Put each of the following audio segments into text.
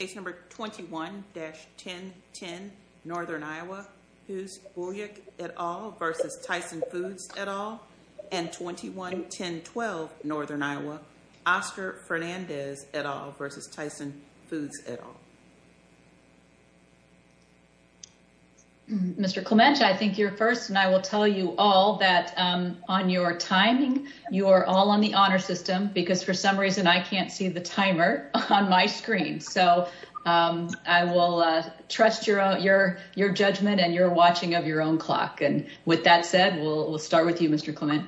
Case number 21-1010, Northern Iowa, who's Buljic et al. v. Tyson Foods et al. And 21-1012, Northern Iowa, Oscar Fernandez et al. v. Tyson Foods et al. Mr. Clement, I think you're first, and I will tell you all that on your timing, you are all on the honor system, because for some reason, I can't see the timer on my screen. So I will trust your judgment and your watching of your own clock. And with that said, we'll start with you, Mr. Clement.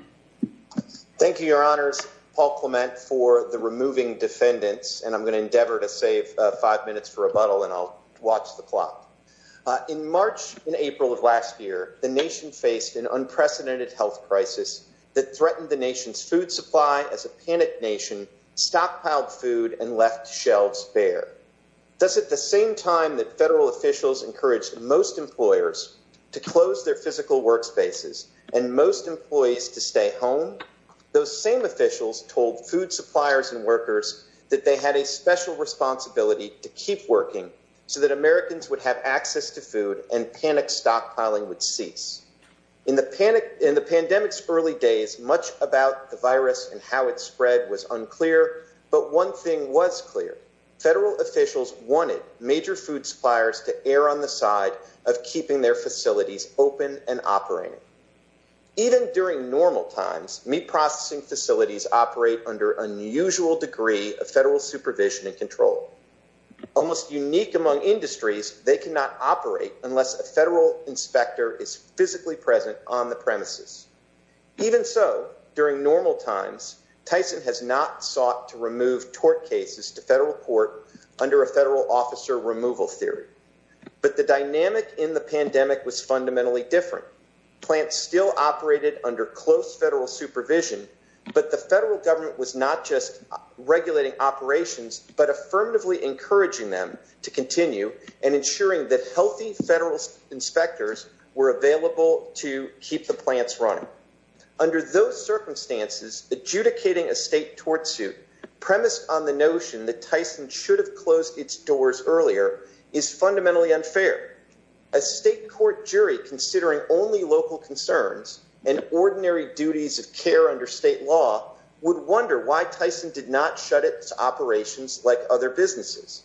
Thank you, Your Honors, Paul Clement, for the removing defendants, and I'm gonna endeavor to save five minutes for rebuttal, and I'll watch the clock. In March and April of last year, the nation faced an unprecedented health crisis that threatened the nation's food supply as a panicked nation stockpiled food and left shelves bare. Thus, at the same time that federal officials encouraged most employers to close their physical workspaces and most employees to stay home, those same officials told food suppliers and workers that they had a special responsibility to keep working so that Americans would have access to food and panic stockpiling would cease. In the pandemic's early days, much about the virus and how it spread was unclear, but one thing was clear. Federal officials wanted major food suppliers to err on the side of keeping their facilities open and operating. Even during normal times, meat processing facilities operate under unusual degree of federal supervision and control. Almost unique among industries, they cannot operate unless a federal inspector is physically present on the premises. Even so, during normal times, Tyson has not sought to remove tort cases to federal court under a federal officer removal theory. But the dynamic in the pandemic was fundamentally different. Plants still operated under close federal supervision, but the federal government was not just regulating operations, but affirmatively encouraging them to continue and ensuring that healthy federal inspectors were available to keep the plants running. Under those circumstances, adjudicating a state tort suit premised on the notion that Tyson should have closed its doors earlier is fundamentally unfair. A state court jury considering only local concerns and ordinary duties of care under state law would wonder why Tyson did not shut its operations like other businesses.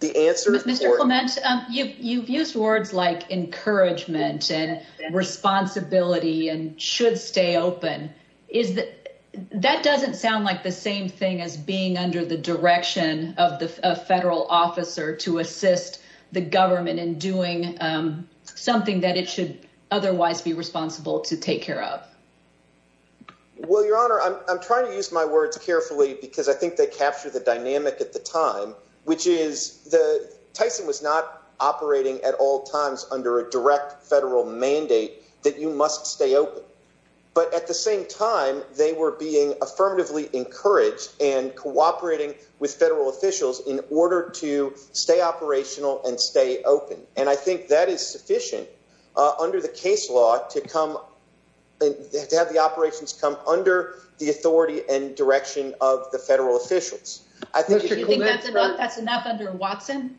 The answer- Just a moment. You've used words like encouragement and responsibility and should stay open. That doesn't sound like the same thing as being under the direction of a federal officer to assist the government in doing something that it should otherwise be responsible to take care of. Well, Your Honor, I'm trying to use my words carefully because I think they capture the dynamic at the time, which is Tyson was not operating at all times under a direct federal mandate that you must stay open. But at the same time, they were being affirmatively encouraged and cooperating with federal officials in order to stay operational and stay open. And I think that is sufficient under the case law to have the operations come under the authority and direction of the federal officials. I think- Do you think that's enough under Watson?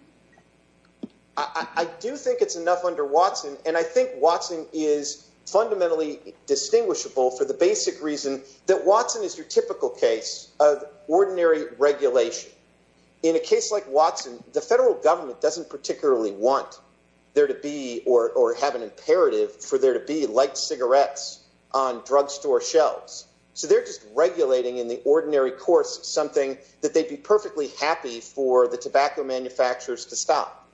I do think it's enough under Watson. And I think Watson is fundamentally distinguishable for the basic reason that Watson is your typical case of ordinary regulation. In a case like Watson, the federal government doesn't particularly want there to be or have an imperative for there to be light cigarettes on drugstore shelves. So they're just regulating in the ordinary course something that they'd be perfectly happy for the tobacco manufacturers to stop.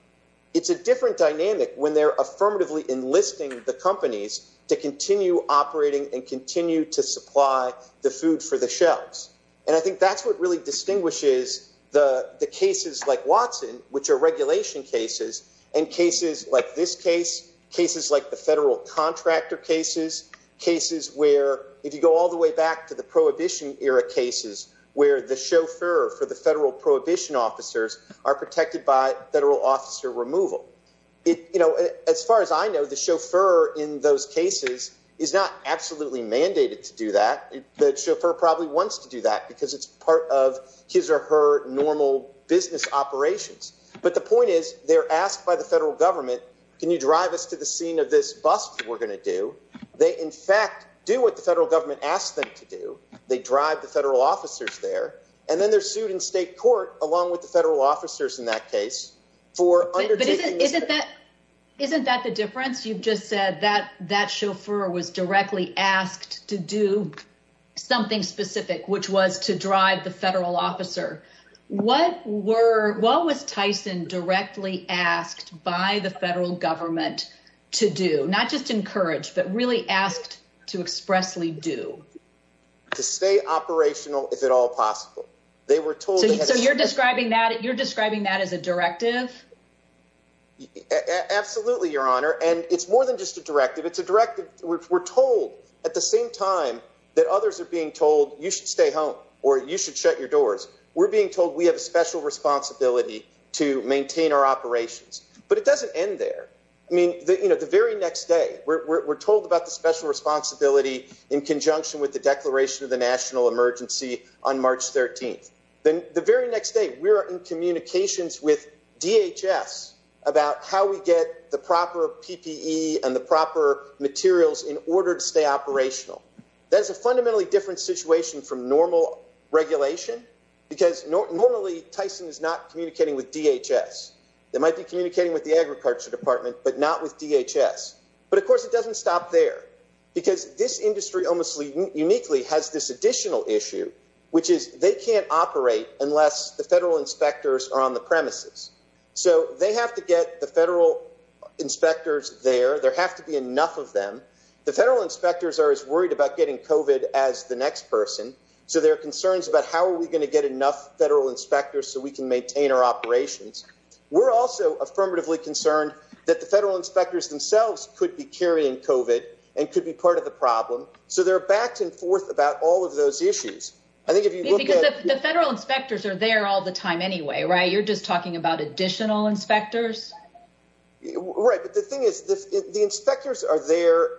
It's a different dynamic when they're affirmatively enlisting the companies to continue operating and continue to supply the food for the shelves. And I think that's what really distinguishes the cases like Watson, which are regulation cases, and cases like this case, cases like the federal contractor cases, cases where if you go all the way back to the prohibition era cases, where the chauffeur for the federal prohibition officers are protected by federal officer removal. As far as I know, the chauffeur in those cases is not absolutely mandated to do that. The chauffeur probably wants to do that because it's part of his or her normal business operations. But the point is they're asked by the federal government, can you drive us to the scene of this bust that we're gonna do? They, in fact, do what the federal government asked them to do. They drive the federal officers there, and then they're sued in state court along with the federal officers in that case for undertaking- But isn't that the difference? You've just said that that chauffeur was directly asked to do something specific, which was to drive the federal officer. What was Tyson directly asked by the federal government to do? Not just encourage, but really asked to expressly do? To stay operational if at all possible. They were told- So you're describing that as a directive? Absolutely, Your Honor. And it's more than just a directive. It's a directive. We're told at the same time that others are being told you should stay home or you should shut your doors. We're being told we have a special responsibility to maintain our operations. But it doesn't end there. I mean, the very next day, we're told about the special responsibility in conjunction with the declaration of the national emergency on March 13th. Then the very next day, we're in communications with DHS about how we get the proper PPE and the proper materials in order to stay operational. That's a fundamentally different situation from normal regulation because normally, Tyson is not communicating with DHS. They might be communicating with the agriculture department, but not with DHS. But of course, it doesn't stop there because this industry almost uniquely has this additional issue, which is they can't operate unless the federal inspectors are on the premises. So they have to get the federal inspectors there. There have to be enough of them. The federal inspectors are as worried about getting COVID as the next person. So there are concerns about how are we gonna get enough federal inspectors so we can maintain our operations. We're also affirmatively concerned that the federal inspectors themselves could be carrying COVID and could be part of the problem. So there are back and forth about all of those issues. I think if you look at- Because the federal inspectors are there all the time anyway, right? You're just talking about additional inspectors. Right, but the thing is, the inspectors are there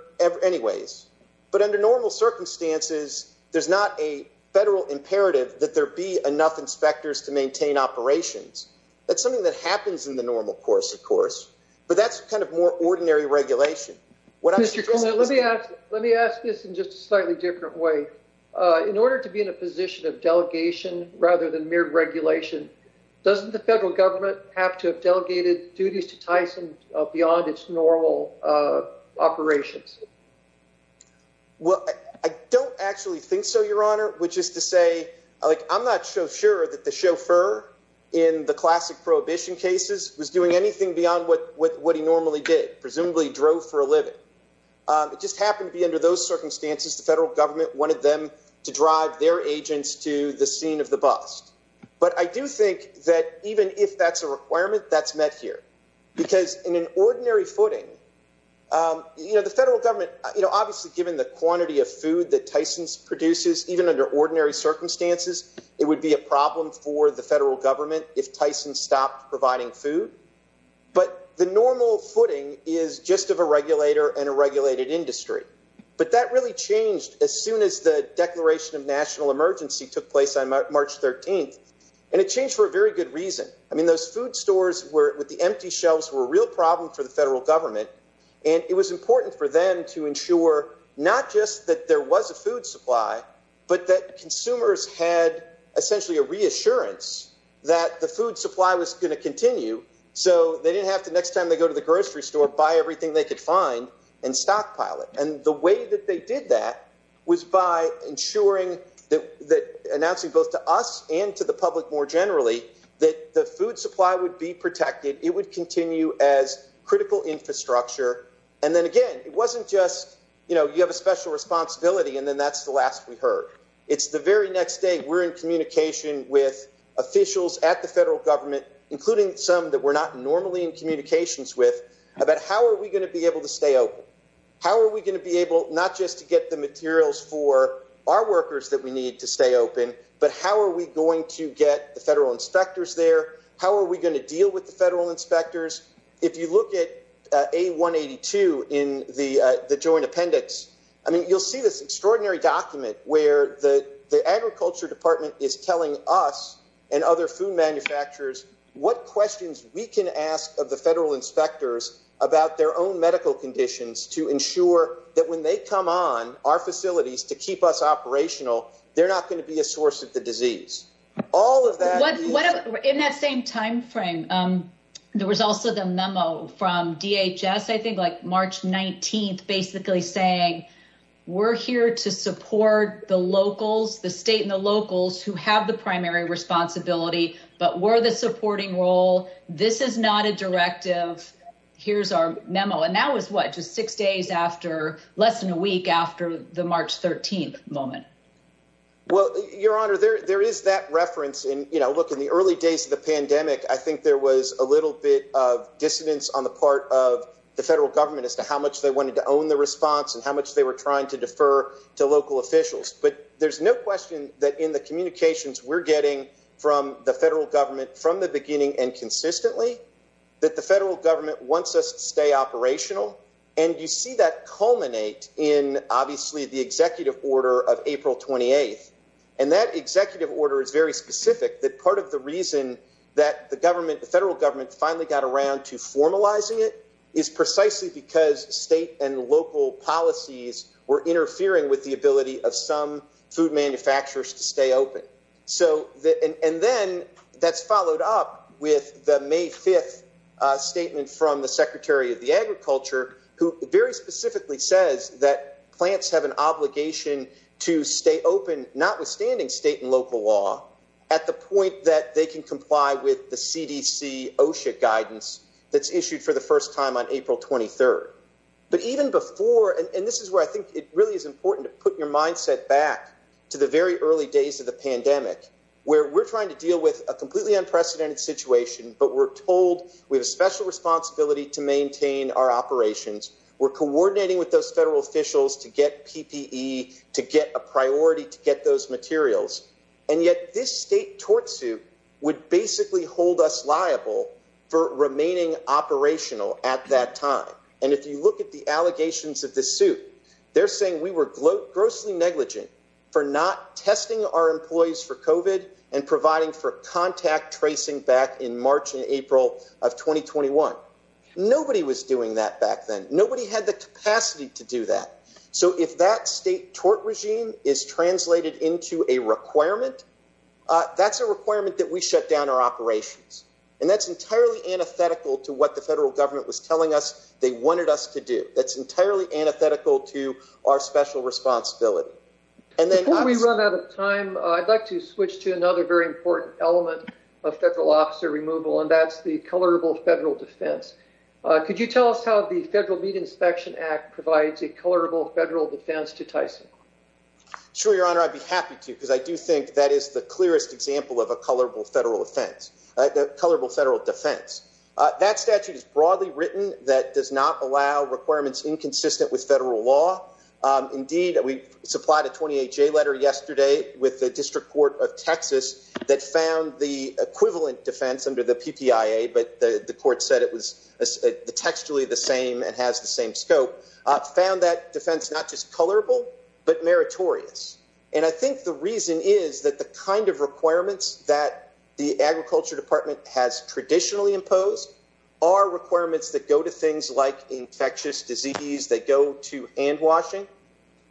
anyways, but under normal circumstances, there's not a federal imperative that there be enough inspectors to maintain operations. That's something that happens in the normal course, of course, but that's kind of more ordinary regulation. What I'm- Mr. Coleman, let me ask this in just a slightly different way. In order to be in a position of delegation rather than mere regulation, doesn't the federal government have to have delegated duties to Tyson beyond its normal operations? Well, I don't actually think so, Your Honor, which is to say, I'm not so sure that the chauffeur in the classic prohibition cases was doing anything beyond what he normally did, presumably drove for a living. It just happened to be under those circumstances, the federal government wanted them to drive their agents to the scene of the bust. But I do think that even if that's a requirement, that's met here. Because in an ordinary footing, you know, the federal government, obviously given the quantity of food that Tyson's produces, even under ordinary circumstances, it would be a problem for the federal government if Tyson stopped providing food. But the normal footing is just of a regulator and a regulated industry. But that really changed as soon as the Declaration of National Emergency took place on March 13th. And it changed for a very good reason. I mean, those food stores with the empty shelves were a real problem for the federal government. And it was important for them to ensure not just that there was a food supply, but that consumers had essentially a reassurance that the food supply was gonna continue. So they didn't have to next time they go to the grocery store, buy everything they could find and stockpile it. And the way that they did that was by ensuring that, announcing both to us and to the public more generally, that the food supply would be protected, it would continue as critical infrastructure. And then again, it wasn't just, you know, you have a special responsibility and then that's the last we heard. It's the very next day we're in communication with officials at the federal government, including some that we're not normally in communications with, about how are we gonna be able to stay open? How are we gonna be able, not just to get the materials for our workers that we need to stay open, but how are we going to get the federal inspectors there? How are we gonna deal with the federal inspectors? If you look at A-182 in the joint appendix, I mean, you'll see this extraordinary document where the agriculture department is telling us and other food manufacturers what questions we can ask of the federal inspectors about their own medical conditions to ensure that when they come on our facilities to keep us operational, they're not gonna be a source of the disease. All of that- In that same timeframe, there was also the memo from DHS, I think like March 19th, basically saying, we're here to support the locals, the state and the locals who have the primary responsibility, but we're the supporting role. This is not a directive. Here's our memo. And that was what? Just six days after, less than a week after the March 13th moment. Well, your honor, there is that reference. And look, in the early days of the pandemic, I think there was a little bit of dissonance on the part of the federal government as to how much they wanted to own the response and how much they were trying to defer to local officials. But there's no question that in the communications we're getting from the federal government from the beginning and consistently, that the federal government wants us to stay operational. And you see that culminate in obviously the executive order of April 28th. And that executive order is very specific that part of the reason that the government, the federal government finally got around to formalizing it is precisely because state and local policies were interfering with the ability of some food manufacturers to stay open. So, and then that's followed up with the May 5th statement from the secretary of the agriculture, who very specifically says that plants have an obligation to stay open, notwithstanding state and local law, at the point that they can comply with the CDC OSHA guidance that's issued for the first time on April 23rd. But even before, and this is where I think it really is important to put your mindset back to the very early days of the pandemic, where we're trying to deal with a completely unprecedented situation, but we're told we have a special responsibility to maintain our operations. We're coordinating with those federal officials to get PPE, to get a priority, to get those materials. And yet this state tortsuit would basically hold us liable for remaining operational at that time. And if you look at the allegations of this suit, they're saying we were grossly negligent for not testing our employees for COVID and providing for contact tracing back in March and April of 2021. Nobody was doing that back then. Nobody had the capacity to do that. So if that state tort regime is translated into a requirement, that's a requirement that we shut down our operations. And that's entirely antithetical to what the federal government was telling us they wanted us to do. That's entirely antithetical to our special responsibility. And then- Before we run out of time, I'd like to switch to another very important element of federal officer removal, and that's the colorable federal defense. Could you tell us how the Federal Meat Inspection Act provides a colorable federal defense to Tyson? Sure, Your Honor, I'd be happy to, because I do think that is the clearest example of a colorable federal offense. A colorable federal defense. That statute is broadly written that does not allow requirements inconsistent with federal law. Indeed, we supplied a 28-J letter yesterday with the District Court of Texas that found the equivalent defense under the PPIA, but the court said it was textually the same and has the same scope, found that defense not just colorable, but meritorious. And I think the reason is that the kind of requirements that the Agriculture Department has traditionally imposed are requirements that go to things like infectious disease, that go to hand washing.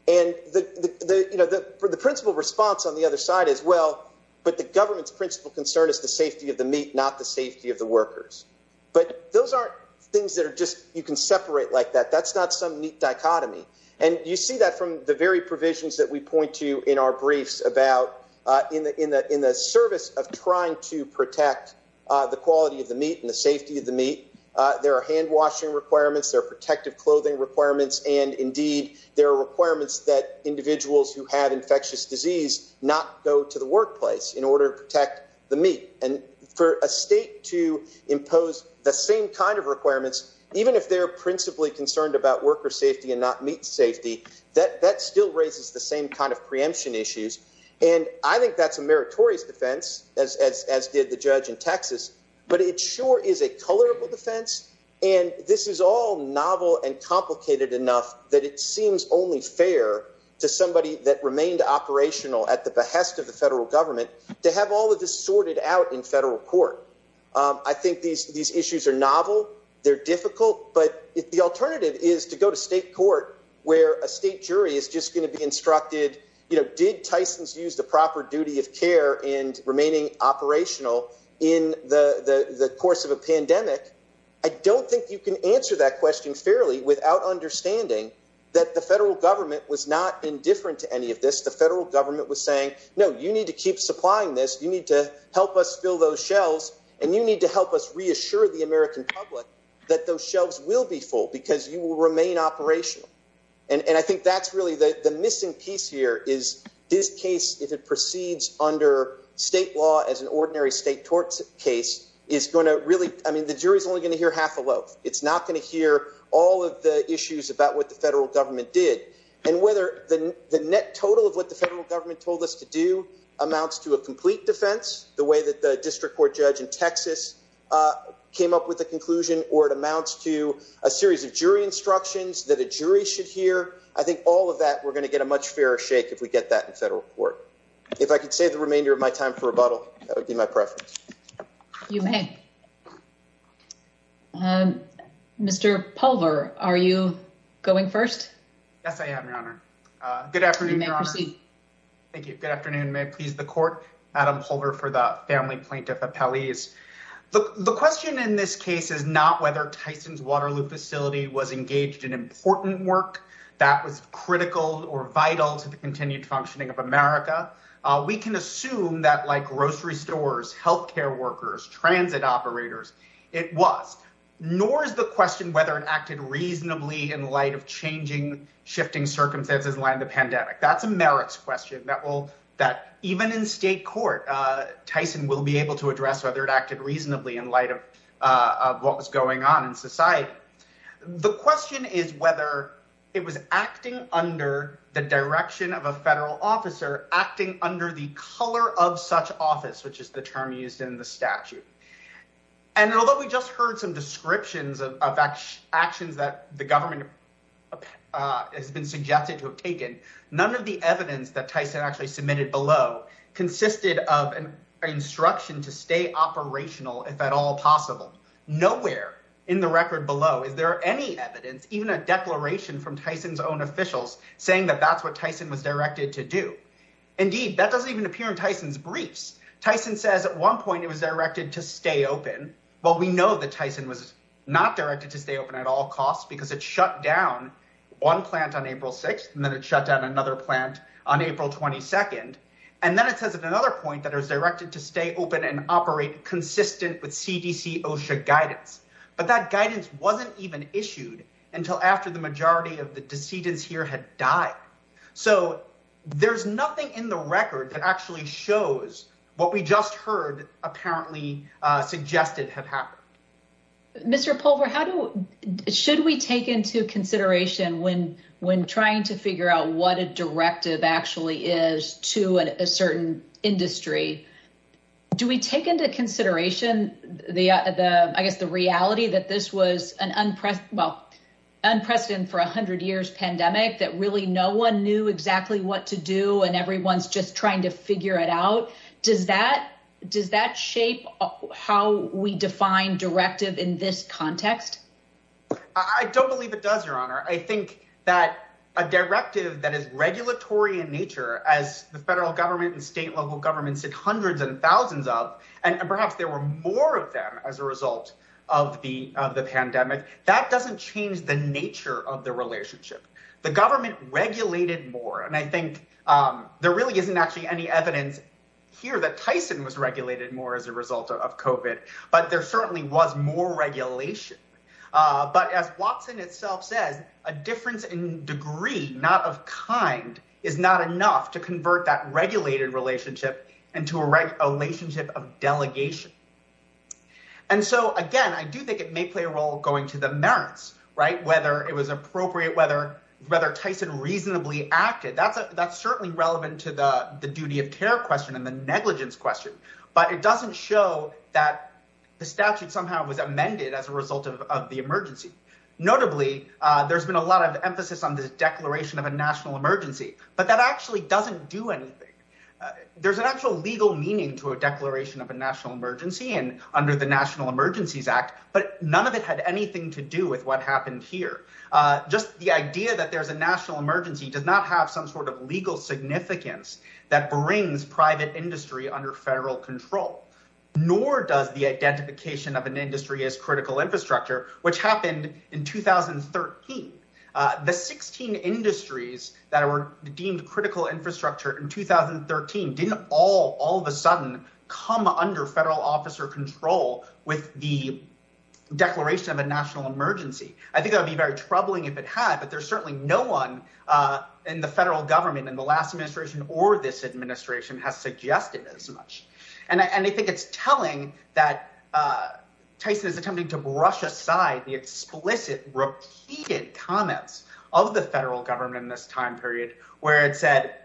And the principle response on the other side is, well, but the government's principle concern is the safety of the meat, not the safety of the workers. But those aren't things that are just, you can separate like that. That's not some neat dichotomy. And you see that from the very provisions that we point to in our briefs in the service of trying to protect the quality of the meat and the safety of the meat. There are hand washing requirements, there are protective clothing requirements. And indeed, there are requirements that individuals who have infectious disease not go to the workplace in order to protect the meat. And for a state to impose the same kind of requirements, even if they're principally concerned about worker safety and not meat safety, that still raises the same kind of preemption issues. And I think that's a meritorious defense, as did the judge in Texas, but it sure is a colorable defense. And this is all novel and complicated enough that it seems only fair to somebody that remained operational at the behest of the federal government to have all of this sorted out in federal court. I think these issues are novel, they're difficult, but the alternative is to go to state court where a state jury is just gonna be instructed, did Tysons use the proper duty of care in remaining operational in the course of a pandemic? I don't think you can answer that question fairly without understanding that the federal government was not indifferent to any of this. The federal government was saying, no, you need to keep supplying this, you need to help us fill those shelves and you need to help us reassure the American public that those shelves will be full because you will remain operational. And I think that's really the missing piece here is this case, if it proceeds under state law as an ordinary state court case, is gonna really, I mean, the jury's only gonna hear half a loaf. It's not gonna hear all of the issues about what the federal government did and whether the net total of what the federal government told us to do amounts to a complete defense, the way that the district court judge in Texas came up with the conclusion, or it amounts to a series of jury instructions that a jury should hear. I think all of that, we're gonna get a much fairer shake if we get that in federal court. If I could save the remainder of my time for rebuttal, that would be my preference. You may. Mr. Pulver, are you going first? Yes, I am, Your Honor. Good afternoon, Your Honor. You may proceed. Thank you. Good afternoon. May it please the court, Adam Pulver for the family plaintiff appellees. The question in this case is not whether Tyson's Waterloo facility was engaged in important work that was critical or vital to the continued functioning of America. We can assume that like grocery stores, healthcare workers, transit operators, it was, nor is the question whether it acted reasonably in light of changing, shifting circumstances in light of the pandemic. That's a merits question that will, that even in state court, Tyson will be able to address whether it acted reasonably in light of what was going on in society. The question is whether it was acting under the direction of a federal officer acting under the color of such office, which is the term used in the statute. And although we just heard some descriptions of actions that the government has been suggested to have taken, none of the evidence that Tyson actually submitted below consisted of an instruction to stay operational if at all possible. Nowhere in the record below is there any evidence, even a declaration from Tyson's own officials saying that that's what Tyson was directed to do. Indeed, that doesn't even appear in Tyson's briefs. Tyson says at one point it was directed to stay open. Well, we know that Tyson was not directed to stay open at all costs because it shut down one plant on April 6th and then it shut down another plant on April 22nd. And then it says at another point that it was directed to stay open and operate consistent with CDC OSHA guidance. But that guidance wasn't even issued until after the majority of the decedents here had died. So there's nothing in the record that actually shows what we just heard apparently suggested have happened. Mr. Pulver, should we take into consideration when trying to figure out what a directive actually is to a certain industry, do we take into consideration, I guess the reality that this was an unprecedented, well, unprecedented for a hundred years pandemic that really no one knew exactly what to do and everyone's just trying to figure it out? Does that shape how we define directive in this context? I don't believe it does, Your Honor. I think that a directive that is regulatory in nature as the federal government and state level governments did hundreds and thousands of, and perhaps there were more of them as a result of the pandemic, that doesn't change the nature of the relationship. The government regulated more. And I think there really isn't actually any evidence here that Tyson was regulated more as a result of COVID, but there certainly was more regulation. But as Watson itself says, a difference in degree, not of kind, is not enough to convert that regulated relationship into a relationship of delegation. And so again, I do think it may play a role going to the merits, right? Whether it was appropriate, whether Tyson reasonably acted, that's certainly relevant to the duty of care question and the negligence question, but it doesn't show that the statute somehow was amended as a result of the emergency. Notably, there's been a lot of emphasis on this declaration of a national emergency, but that actually doesn't do anything. There's an actual legal meaning to a declaration of a national emergency and under the National Emergencies Act, but none of it had anything to do with what happened here. Just the idea that there's a national emergency does not have some sort of legal significance that brings private industry under federal control, nor does the identification of an industry as critical infrastructure, which happened in 2013. The 16 industries that were deemed critical infrastructure in 2013 didn't all of a sudden come under federal officer control with the declaration of a national emergency. I think that would be very troubling if it had, but there's certainly no one in the federal government in the last administration or this administration has suggested as much. And I think it's telling that Tyson is attempting to brush aside the explicit repeated comments of the federal government in this time period where it said,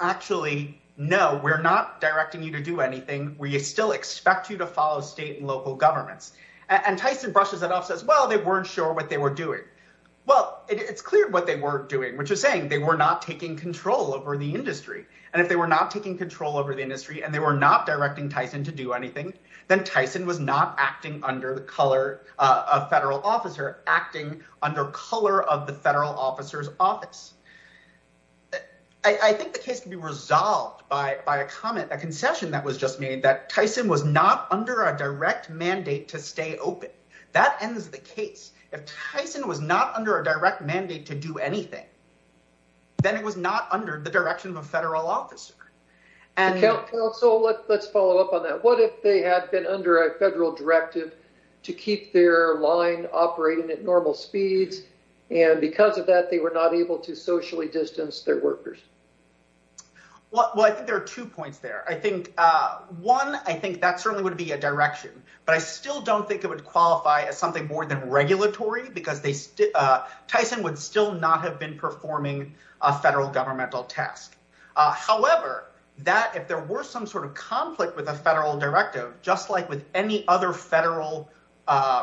actually, no, we're not directing you to do anything. We still expect you to follow state and local governments. And Tyson brushes it off, says, well, they weren't sure what they were doing. Well, it's clear what they weren't doing, which is saying they were not taking control over the industry. And if they were not taking control over the industry and they were not directing Tyson to do anything, then Tyson was not acting under the color of federal officer, acting under color of the federal officer's office. I think the case can be resolved by a comment, a concession that was just made that Tyson was not under a direct mandate to stay open. That ends the case. If Tyson was not under a direct mandate to do anything, then it was not under the direction of a federal officer. And so let's follow up on that. What if they had been under a federal directive to keep their line operating at normal speeds? And because of that, they were not able to socially distance their workers. Well, I think there are two points there. I think one, I think that certainly would be a direction, but I still don't think it would qualify as something more than regulatory because Tyson would still not have been performing a federal governmental task. However, that if there were some sort of conflict with a federal directive, just like with any other federal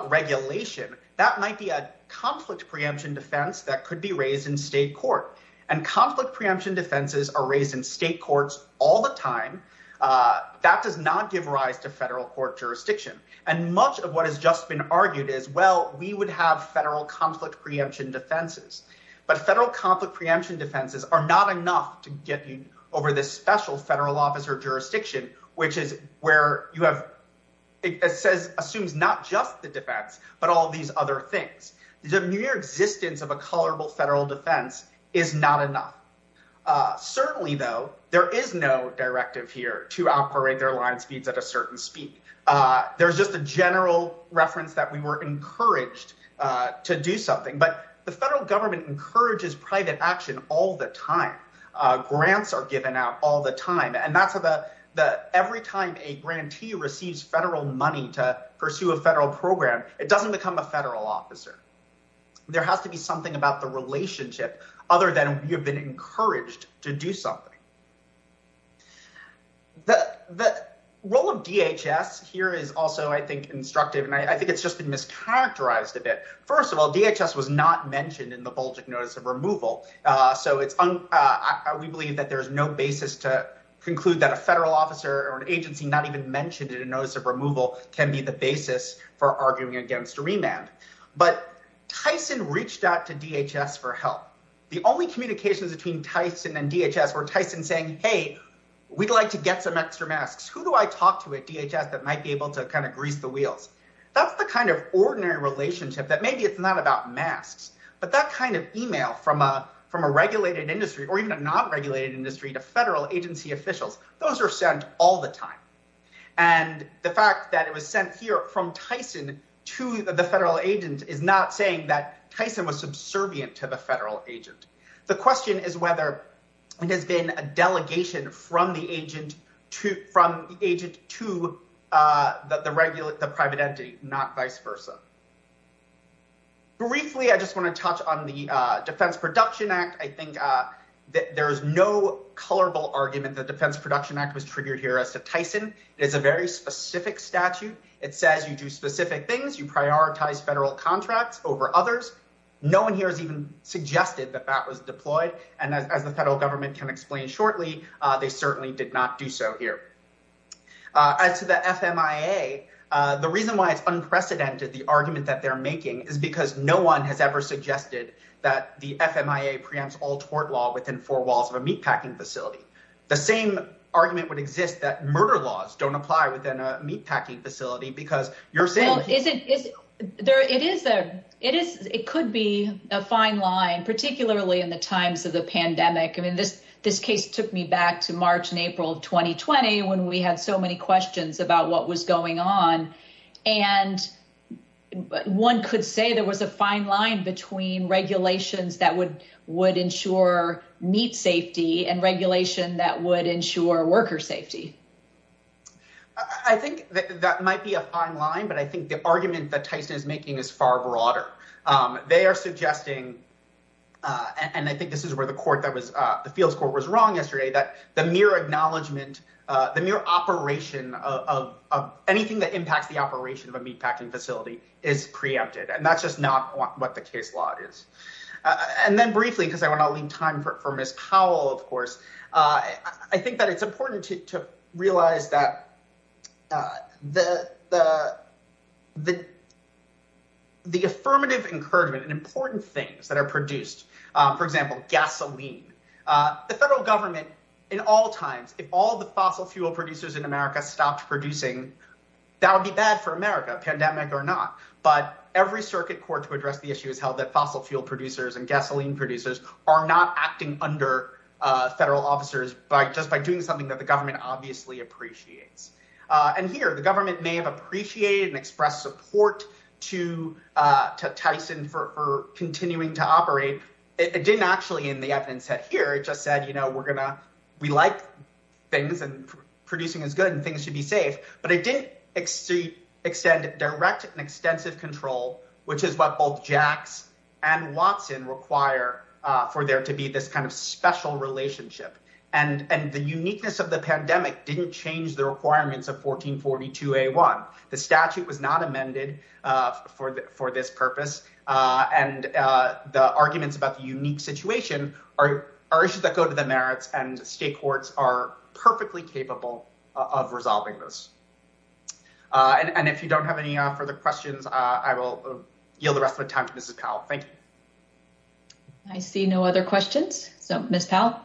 regulation, that might be a conflict preemption defense that could be raised in state court. And conflict preemption defenses are raised in state courts all the time. That does not give rise to federal court jurisdiction. And much of what has just been argued is, well, we would have federal conflict preemption defenses, but federal conflict preemption defenses are not enough to get you over this special federal officer jurisdiction, which is where it assumes not just the defense, but all these other things. The mere existence of a colorable federal defense is not enough. Certainly though, there is no directive here to operate their line speeds at a certain speed. There's just a general reference that we were encouraged to do something, but the federal government encourages private action all the time. Grants are given out all the time. And every time a grantee receives federal money to pursue a federal program, it doesn't become a federal officer. There has to be something about the relationship other than you've been encouraged to do something. The role of DHS here is also, I think, instructive. And I think it's just been mischaracterized a bit. First of all, DHS was not mentioned in the Bulgic Notice of Removal. So we believe that there's no basis to conclude that a federal officer or an agency not even mentioned in a Notice of Removal can be the basis for arguing against a remand. But Tyson reached out to DHS for help. The only communications between Tyson and DHS were Tyson saying, hey, we'd like to get some extra masks. Who do I talk to at DHS that might be able to kind of grease the wheels? That's the kind of ordinary relationship that maybe it's not about masks, but that kind of email from a regulated industry or even a non-regulated industry to federal agency officials, those are sent all the time. And the fact that it was sent here from Tyson to the federal agent is not saying that Tyson was subservient to the federal agent. The question is whether it has been a delegation from the agent to the private entity, not vice versa. Briefly, I just wanna touch on the Defense Production Act. I think that there is no colorful argument that Defense Production Act was triggered here as to Tyson. It is a very specific statute. It says you do specific things, you prioritize federal contracts over others. No one here has even suggested that that was deployed. And as the federal government can explain shortly, they certainly did not do so here. As to the FMIA, the reason why it's unprecedented, the argument that they're making is because no one has ever suggested that the FMIA preempts all tort law within four walls of a meatpacking facility. The same argument would exist that murder laws don't apply within a meatpacking facility because you're saying- It could be a fine line, particularly in the times of the pandemic. I mean, this case took me back to March and April of 2020 when we had so many questions about what was going on. And one could say there was a fine line between regulations that would ensure meat safety and regulation that would ensure worker safety. I think that might be a fine line, but I think the argument that Tyson is making is far broader. They are suggesting, and I think this is where the field's court was wrong yesterday, that the mere acknowledgement, the mere operation of anything that impacts the operation of a meatpacking facility is preempted. And that's just not what the case law is. And then briefly, because I want to leave time for Ms. Powell, of course, I think that it's important to realize that the affirmative encouragement and important things that are produced, for example, gasoline, the federal government in all times, if all the fossil fuel producers in America stopped producing, that would be bad for America, pandemic or not. But every circuit court to address the issue has held that fossil fuel producers and gasoline producers are not acting under federal officers by just by doing something that the government obviously appreciates. And here, the government may have appreciated and expressed support to Tyson for continuing to operate. It didn't actually in the evidence set here. It just said, we like things and producing is good and things should be safe. But it didn't extend direct and extensive control, which is what both Jacks and Watson require for there to be this kind of special relationship. And the uniqueness of the pandemic didn't change the requirements of 1442A1. The statute was not amended for this purpose. And the arguments about the unique situation are issues that go to the merits and state courts are perfectly capable of resolving this. And if you don't have any further questions, I will yield the rest of the time to Mrs. Powell. Thank you. I see no other questions. So, Ms. Powell.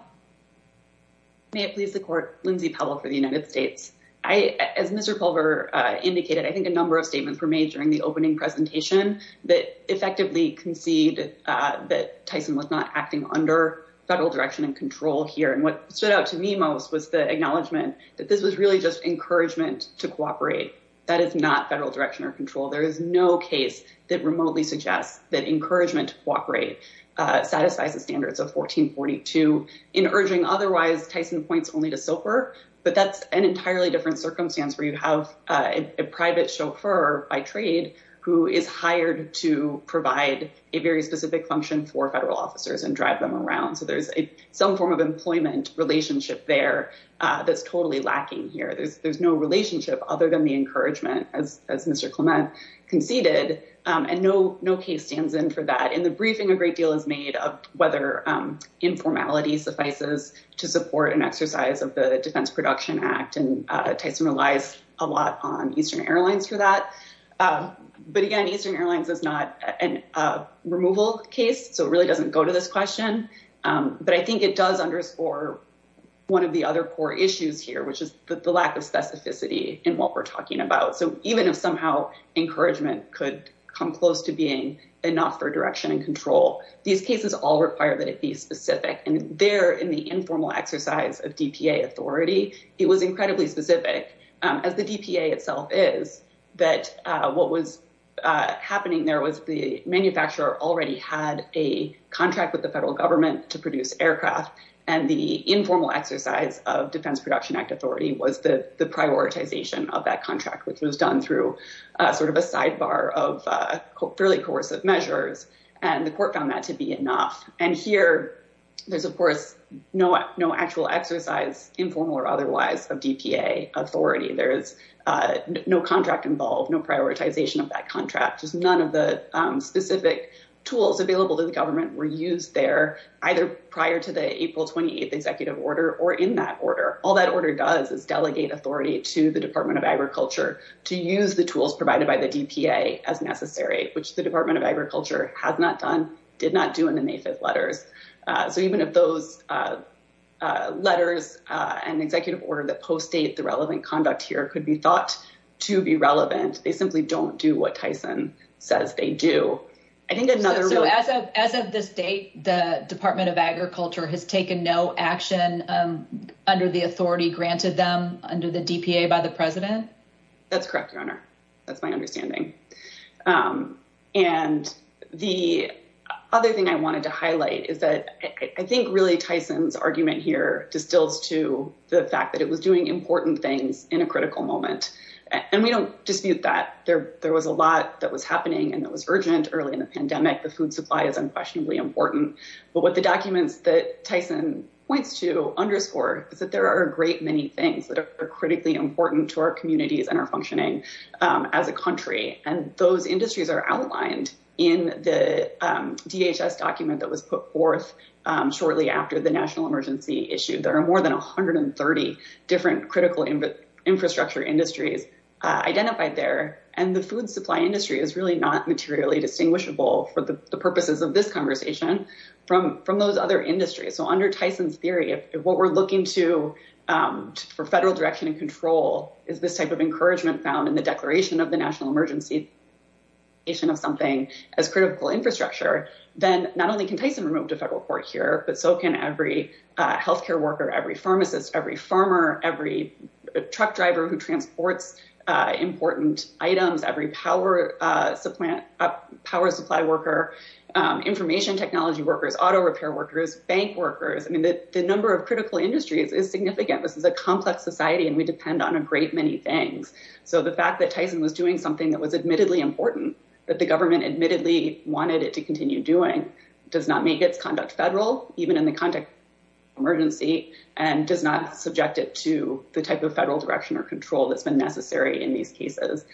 May it please the court, Lindsay Powell for the United States. As Mr. Pulver indicated, I think a number of statements were made during the opening presentation that effectively concede that Tyson was not acting under federal direction and control here. And what stood out to me most was the acknowledgement that this was really just encouragement to cooperate. That is not federal direction or control. There is no case that remotely suggests that encouragement to cooperate satisfies the standards of 1442. In urging otherwise, Tyson points only to SOFR, but that's an entirely different circumstance where you have a private chauffeur by trade who is hired to provide a very specific function for federal officers and drive them around. So there's some form of employment relationship there that's totally lacking here. There's no relationship other than the encouragement as Mr. Clement conceded. And no case stands in for that. In the briefing, a great deal is made of whether informality suffices to support an exercise of the Defense Production Act. And Tyson relies a lot on Eastern Airlines for that. But again, Eastern Airlines is not a removal case. So it really doesn't go to this question. But I think it does underscore one of the other core issues here, which is the lack of specificity in what we're talking about. So even if somehow encouragement could come close to being enough for direction and control, these cases all require that it be specific. And there in the informal exercise of DPA authority, it was incredibly specific as the DPA itself is, that what was happening there was the manufacturer already had a contract with the federal government to produce aircraft. And the informal exercise of Defense Production Act authority was the prioritization of that contract, which was done through sort of a sidebar of fairly coercive measures. And the court found that to be enough. And here there's, of course, no actual exercise, informal or otherwise, of DPA authority. There is no contract involved, no prioritization of that contract. Just none of the specific tools available to the government were used there, either prior to the April 28th executive order or in that order. All that order does is delegate authority to the Department of Agriculture to use the tools provided by the DPA as necessary, which the Department of Agriculture has not done, did not do in the May 5th letters. So even if those letters and executive order that postdate the relevant conduct here could be thought to be relevant, they simply don't do what Tyson says they do. I think another- So as of this date, the Department of Agriculture has taken no action under the authority granted them under the DPA by the president? That's correct, Your Honor. That's my understanding. And the other thing I wanted to highlight is that I think really Tyson's argument here distills to the fact that it was doing important things in a critical moment. And we don't dispute that. There was a lot that was happening and that was urgent early in the pandemic. The food supply is unquestionably important. But what the documents that Tyson points to underscore is that there are a great many things that are critically important to our communities and our functioning as a country. And those industries are outlined in the DHS document that was put forth shortly after the national emergency issue. There are more than 130 different critical infrastructure industries identified there. And the food supply industry is really not materially distinguishable for the purposes of this conversation from those other industries. So under Tyson's theory, if what we're looking to for federal direction and control is this type of encouragement found in the declaration of the national emergency of something as critical infrastructure, then not only can Tyson remove the federal court here, but so can every healthcare worker, every pharmacist, every farmer, every truck driver who transports important items, every power supply worker, information technology workers, auto repair workers, bank workers. I mean, the number of critical industries is significant. This is a complex society and we depend on a great many things. So the fact that Tyson was doing something that was admittedly important, that the government admittedly wanted it to continue doing, does not make its conduct federal even in the context of emergency and does not subject it to the type of federal direction or control that's been necessary in these cases.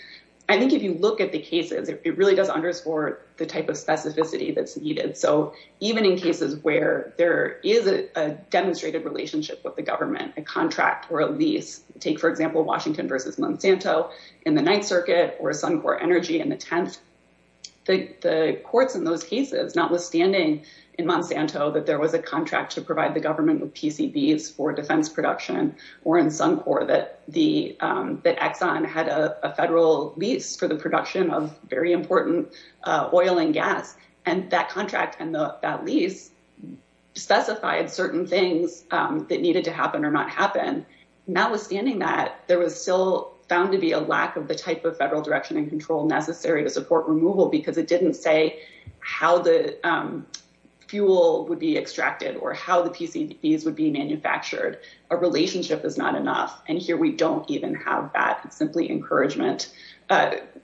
I think if you look at the cases, it really does underscore the type of specificity that's needed. So even in cases where there is a demonstrated relationship with the government, a contract or a lease, take for example, Washington versus Monsanto in the ninth circuit or Suncor Energy in the 10th, the courts in those cases, notwithstanding in Monsanto that there was a contract to provide the government with PCBs for defense production or in Suncor that Exxon had a federal lease for the production of very important oil and gas. And that contract and that lease specified certain things that needed to happen or not happen. Notwithstanding that, there was still found to be a lack of the type of federal direction and control necessary to support removal because it didn't say how the fuel would be extracted or how the PCBs would be manufactured. A relationship is not enough. And here we don't even have that. It's simply encouragement.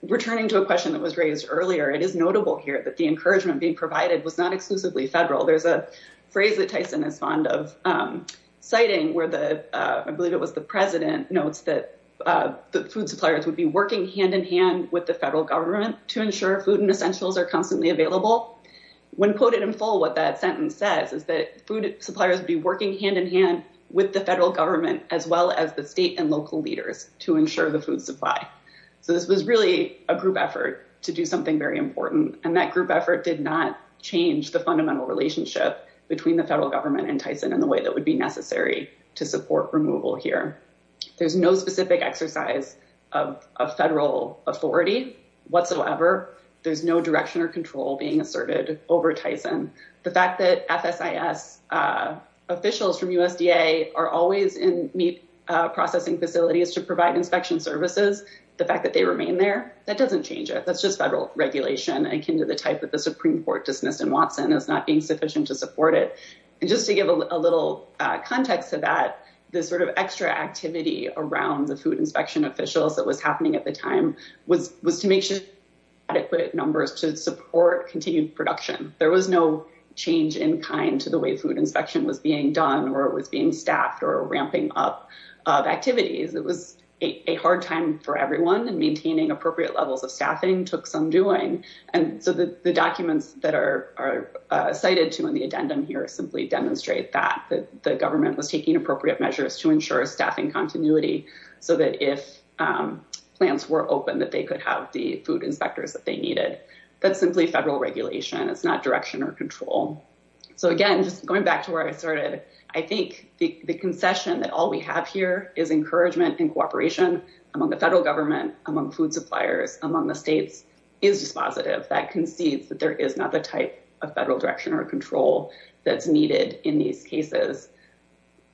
Returning to a question that was raised earlier, it is notable here that the encouragement being provided was not exclusively federal. There's a phrase that Tyson is fond of citing where I believe it was the president notes that the food suppliers would be working hand in hand with the federal government to ensure food and essentials are constantly available. When quoted in full, what that sentence says is that food suppliers would be working hand in hand with the federal government as well as the state and local leaders to ensure the food supply. So this was really a group effort to do something very important. And that group effort did not change the fundamental relationship between the federal government and Tyson in the way that would be necessary to support removal here. There's no specific exercise of a federal authority whatsoever. There's no direction or control being asserted over Tyson. The fact that FSIS officials from USDA are always in meat processing facilities to provide inspection services, the fact that they remain there, that doesn't change it. That's just federal regulation akin to the type of the Supreme Court dismissed in Watson as not being sufficient to support it. And just to give a little context to that, this sort of extra activity around the food inspection officials that was happening at the time was to make sure adequate numbers to support continued production. There was no change in kind to the way food inspection was being done or it was being staffed or ramping up of activities. It was a hard time for everyone and maintaining appropriate levels of staffing took some doing. And so the documents that are cited to in the addendum here simply demonstrate that the government was taking appropriate measures to ensure staffing continuity so that if plants were open that they could have the food inspectors that they needed. That's simply federal regulation. It's not direction or control. So again, just going back to where I started, I think the concession that all we have here is encouragement and cooperation among the federal government, among food suppliers, among the states is dispositive. That concedes that there is not the type of federal direction or control that's needed in these cases.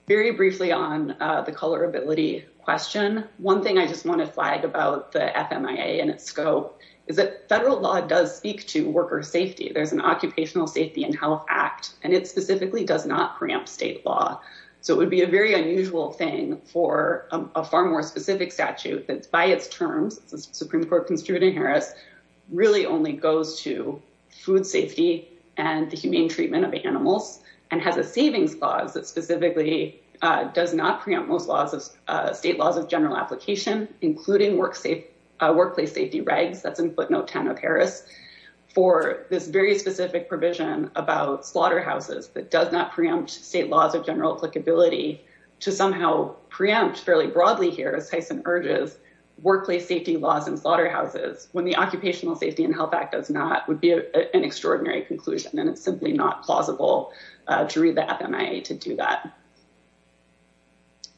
Very briefly on the colorability question, one thing I just want to flag about the FMIA and its scope is that federal law does speak to worker safety. There's an Occupational Safety and Health Act and it specifically does not preempt state law. So it would be a very unusual thing for a far more specific statute that's by its terms, it's the Supreme Court Constituent Harris, really only goes to food safety and the humane treatment of animals and has a savings clause that specifically does not preempt most laws of state laws of general application, including workplace safety regs. That's in footnote 10 of Harris. For this very specific provision about slaughterhouses that does not preempt state laws of general applicability to somehow preempt fairly broadly here as Tyson urges, workplace safety laws and slaughterhouses when the Occupational Safety and Health Act does not would be an extraordinary conclusion and it's simply not plausible to read the FMIA to do that.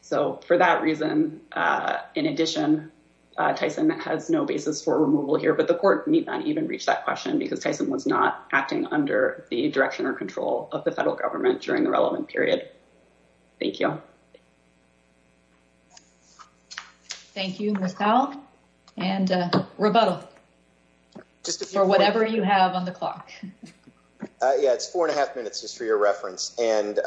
So for that reason, in addition, Tyson has no basis for removal here, but the court need not even reach that question because Tyson was not acting under the direction or control of the federal government during the relevant period. Thank you. Thank you, Ms. Powell. And rebuttal. For whatever you have on the clock. Yeah, it's four and a half minutes just for your reference. And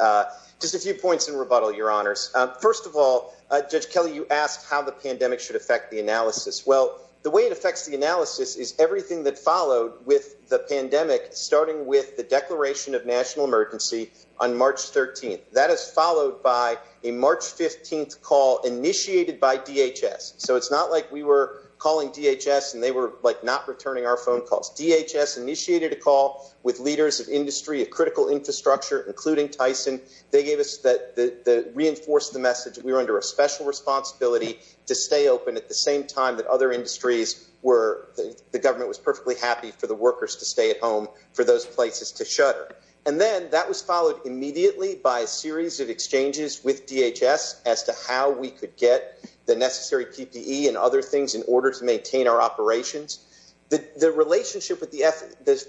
just a few points in rebuttal, your honors. First of all, Judge Kelly, you asked how the pandemic should affect the analysis. Well, the way it affects the analysis is everything that followed with the pandemic, starting with the declaration of national emergency on March 13th. That is followed by a March 15th call initiated by DHS. So it's not like we were calling DHS and they were like not returning our phone calls. DHS initiated a call with leaders of industry, a critical infrastructure, including Tyson. They gave us that, reinforced the message we were under a special responsibility to stay open at the same time that other industries were. The government was perfectly happy for the workers to stay at home for those places to shutter. And then that was followed immediately by a series of exchanges with DHS as to how we could get the necessary PPE and other things in order to maintain our operations. The relationship with the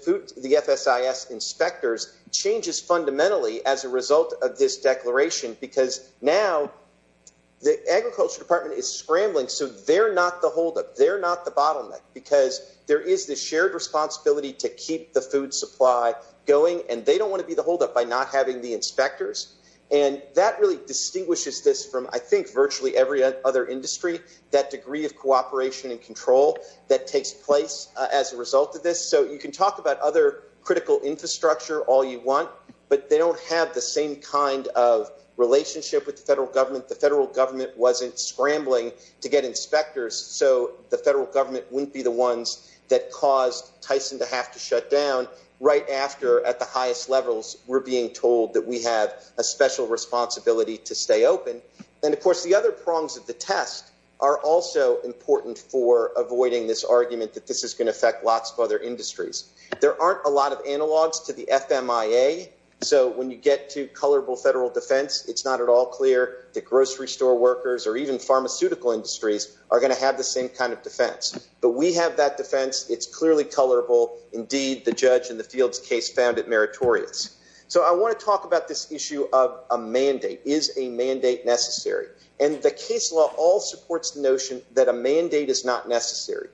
food, the FSIS inspectors changes fundamentally as a result of this declaration, because now the agriculture department is scrambling. So they're not the holdup. They're not the bottleneck because there is this shared responsibility to keep the food supply going. And they don't want to be the holdup by not having the inspectors. And that really distinguishes this from I think virtually every other industry, that degree of cooperation and control that takes place as a result of this. So you can talk about other critical infrastructure all you want, but they don't have the same kind of relationship with the federal government. The federal government wasn't scrambling to get inspectors, so the federal government wouldn't be the ones that caused Tyson to have to shut down right after at the highest levels we're being told that we have a special responsibility to stay open. And of course, the other prongs of the test are also important for avoiding this argument that this is going to affect lots of other industries. There aren't a lot of analogs to the FMIA. So when you get to colorable federal defense, it's not at all clear that grocery store workers or even pharmaceutical industries are going to have the same kind of defense. But we have that defense. It's clearly colorable. Indeed, the judge in the Fields case found it meritorious. So I want to talk about this issue of a mandate. Is a mandate necessary? And the case law all supports the notion that a mandate is not necessary.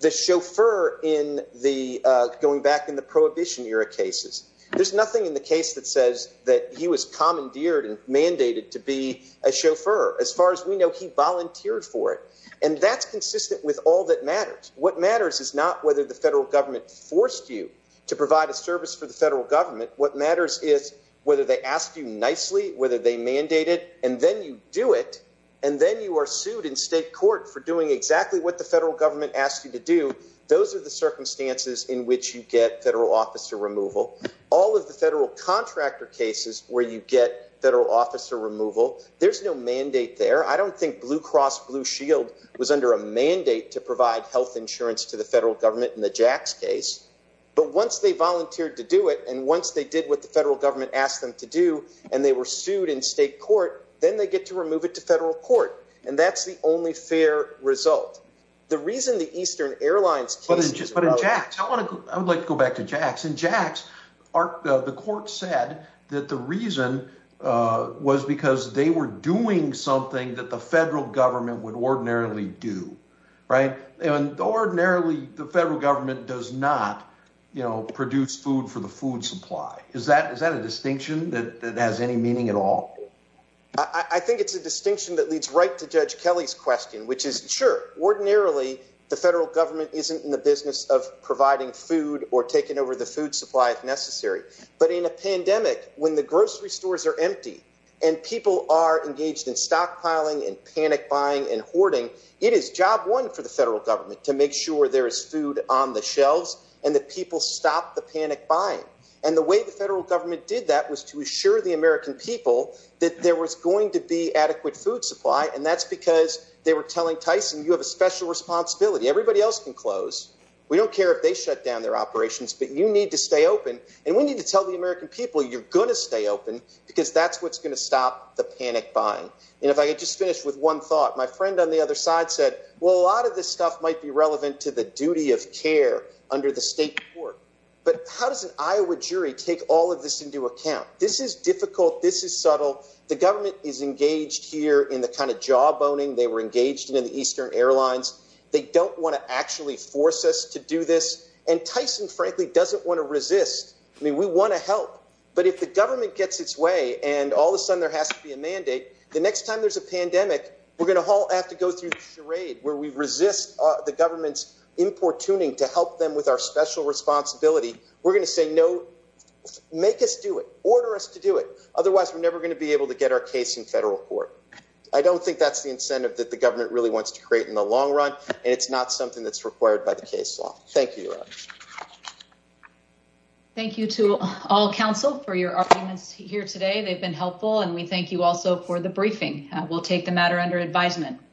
The chauffeur in the going back in the prohibition era cases, there's nothing in the case that says that he was commandeered and mandated to be a chauffeur. As far as we know, he volunteered for it. And that's consistent with all that matters. What matters is not whether the federal government forced you to provide a service for the federal government. What matters is whether they asked you nicely, whether they mandated and then you do it. And then you are sued in state court for doing exactly what the federal government asked you to do. Those are the circumstances in which you get federal officer removal. All of the federal contractor cases where you get federal officer removal. There's no mandate there. I don't think Blue Cross Blue Shield was under a mandate to provide health insurance to the federal government in the Jacks case. But once they volunteered to do it and once they did what the federal government asked them to do and they were sued in state court, then they get to remove it to federal court. And that's the only fair result. The reason the Eastern Airlines cases. But in Jacks, I would like to go back to Jacks. In Jacks, the court said that the reason was because they were doing something that the federal government would ordinarily do. Right. Ordinarily, the federal government does not produce food for the food supply. Is that a distinction that has any meaning at all? I think it's a distinction that leads right to Judge Kelly's question, which is sure. Ordinarily, the federal government isn't in the business of providing food or taking over the food supply if necessary. But in a pandemic, when the grocery stores are empty and people are engaged in stockpiling and panic buying and hoarding, it is job one for the federal government to make sure there is food on the shelves and that people stop the panic buying. And the way the federal government did that was to assure the American people that there was going to be adequate food supply. And that's because they were telling Tyson, you have a special responsibility. Everybody else can close. We don't care if they shut down their operations, but you need to stay open and we need to tell the American people you're going to stay open because that's what's going to stop the panic buying. And if I could just finish with one thought, my friend on the other side said, well, a lot of this stuff might be relevant to the duty of care under the state court. But how does an Iowa jury take all of this into account? This is difficult. This is subtle. The government is engaged here in the kind of jawboning they were engaged in in the Eastern Airlines. They don't want to actually force us to do this. And Tyson, frankly, doesn't want to resist. I mean, we want to help, but if the government gets its way and all of a sudden there has to be a mandate, the next time there's a pandemic, we're going to have to go through the charade where we resist the government's importuning to help them with our special responsibility. We're going to say, no, make us do it, order us to do it. Otherwise, we're never going to be able to get our case in federal court. I don't think that's the incentive that the government really wants to create in the long run. And it's not something that's required by the case law. Thank you. Thank you to all counsel for your arguments here today. They've been helpful. And we thank you also for the briefing. We'll take the matter under advisement.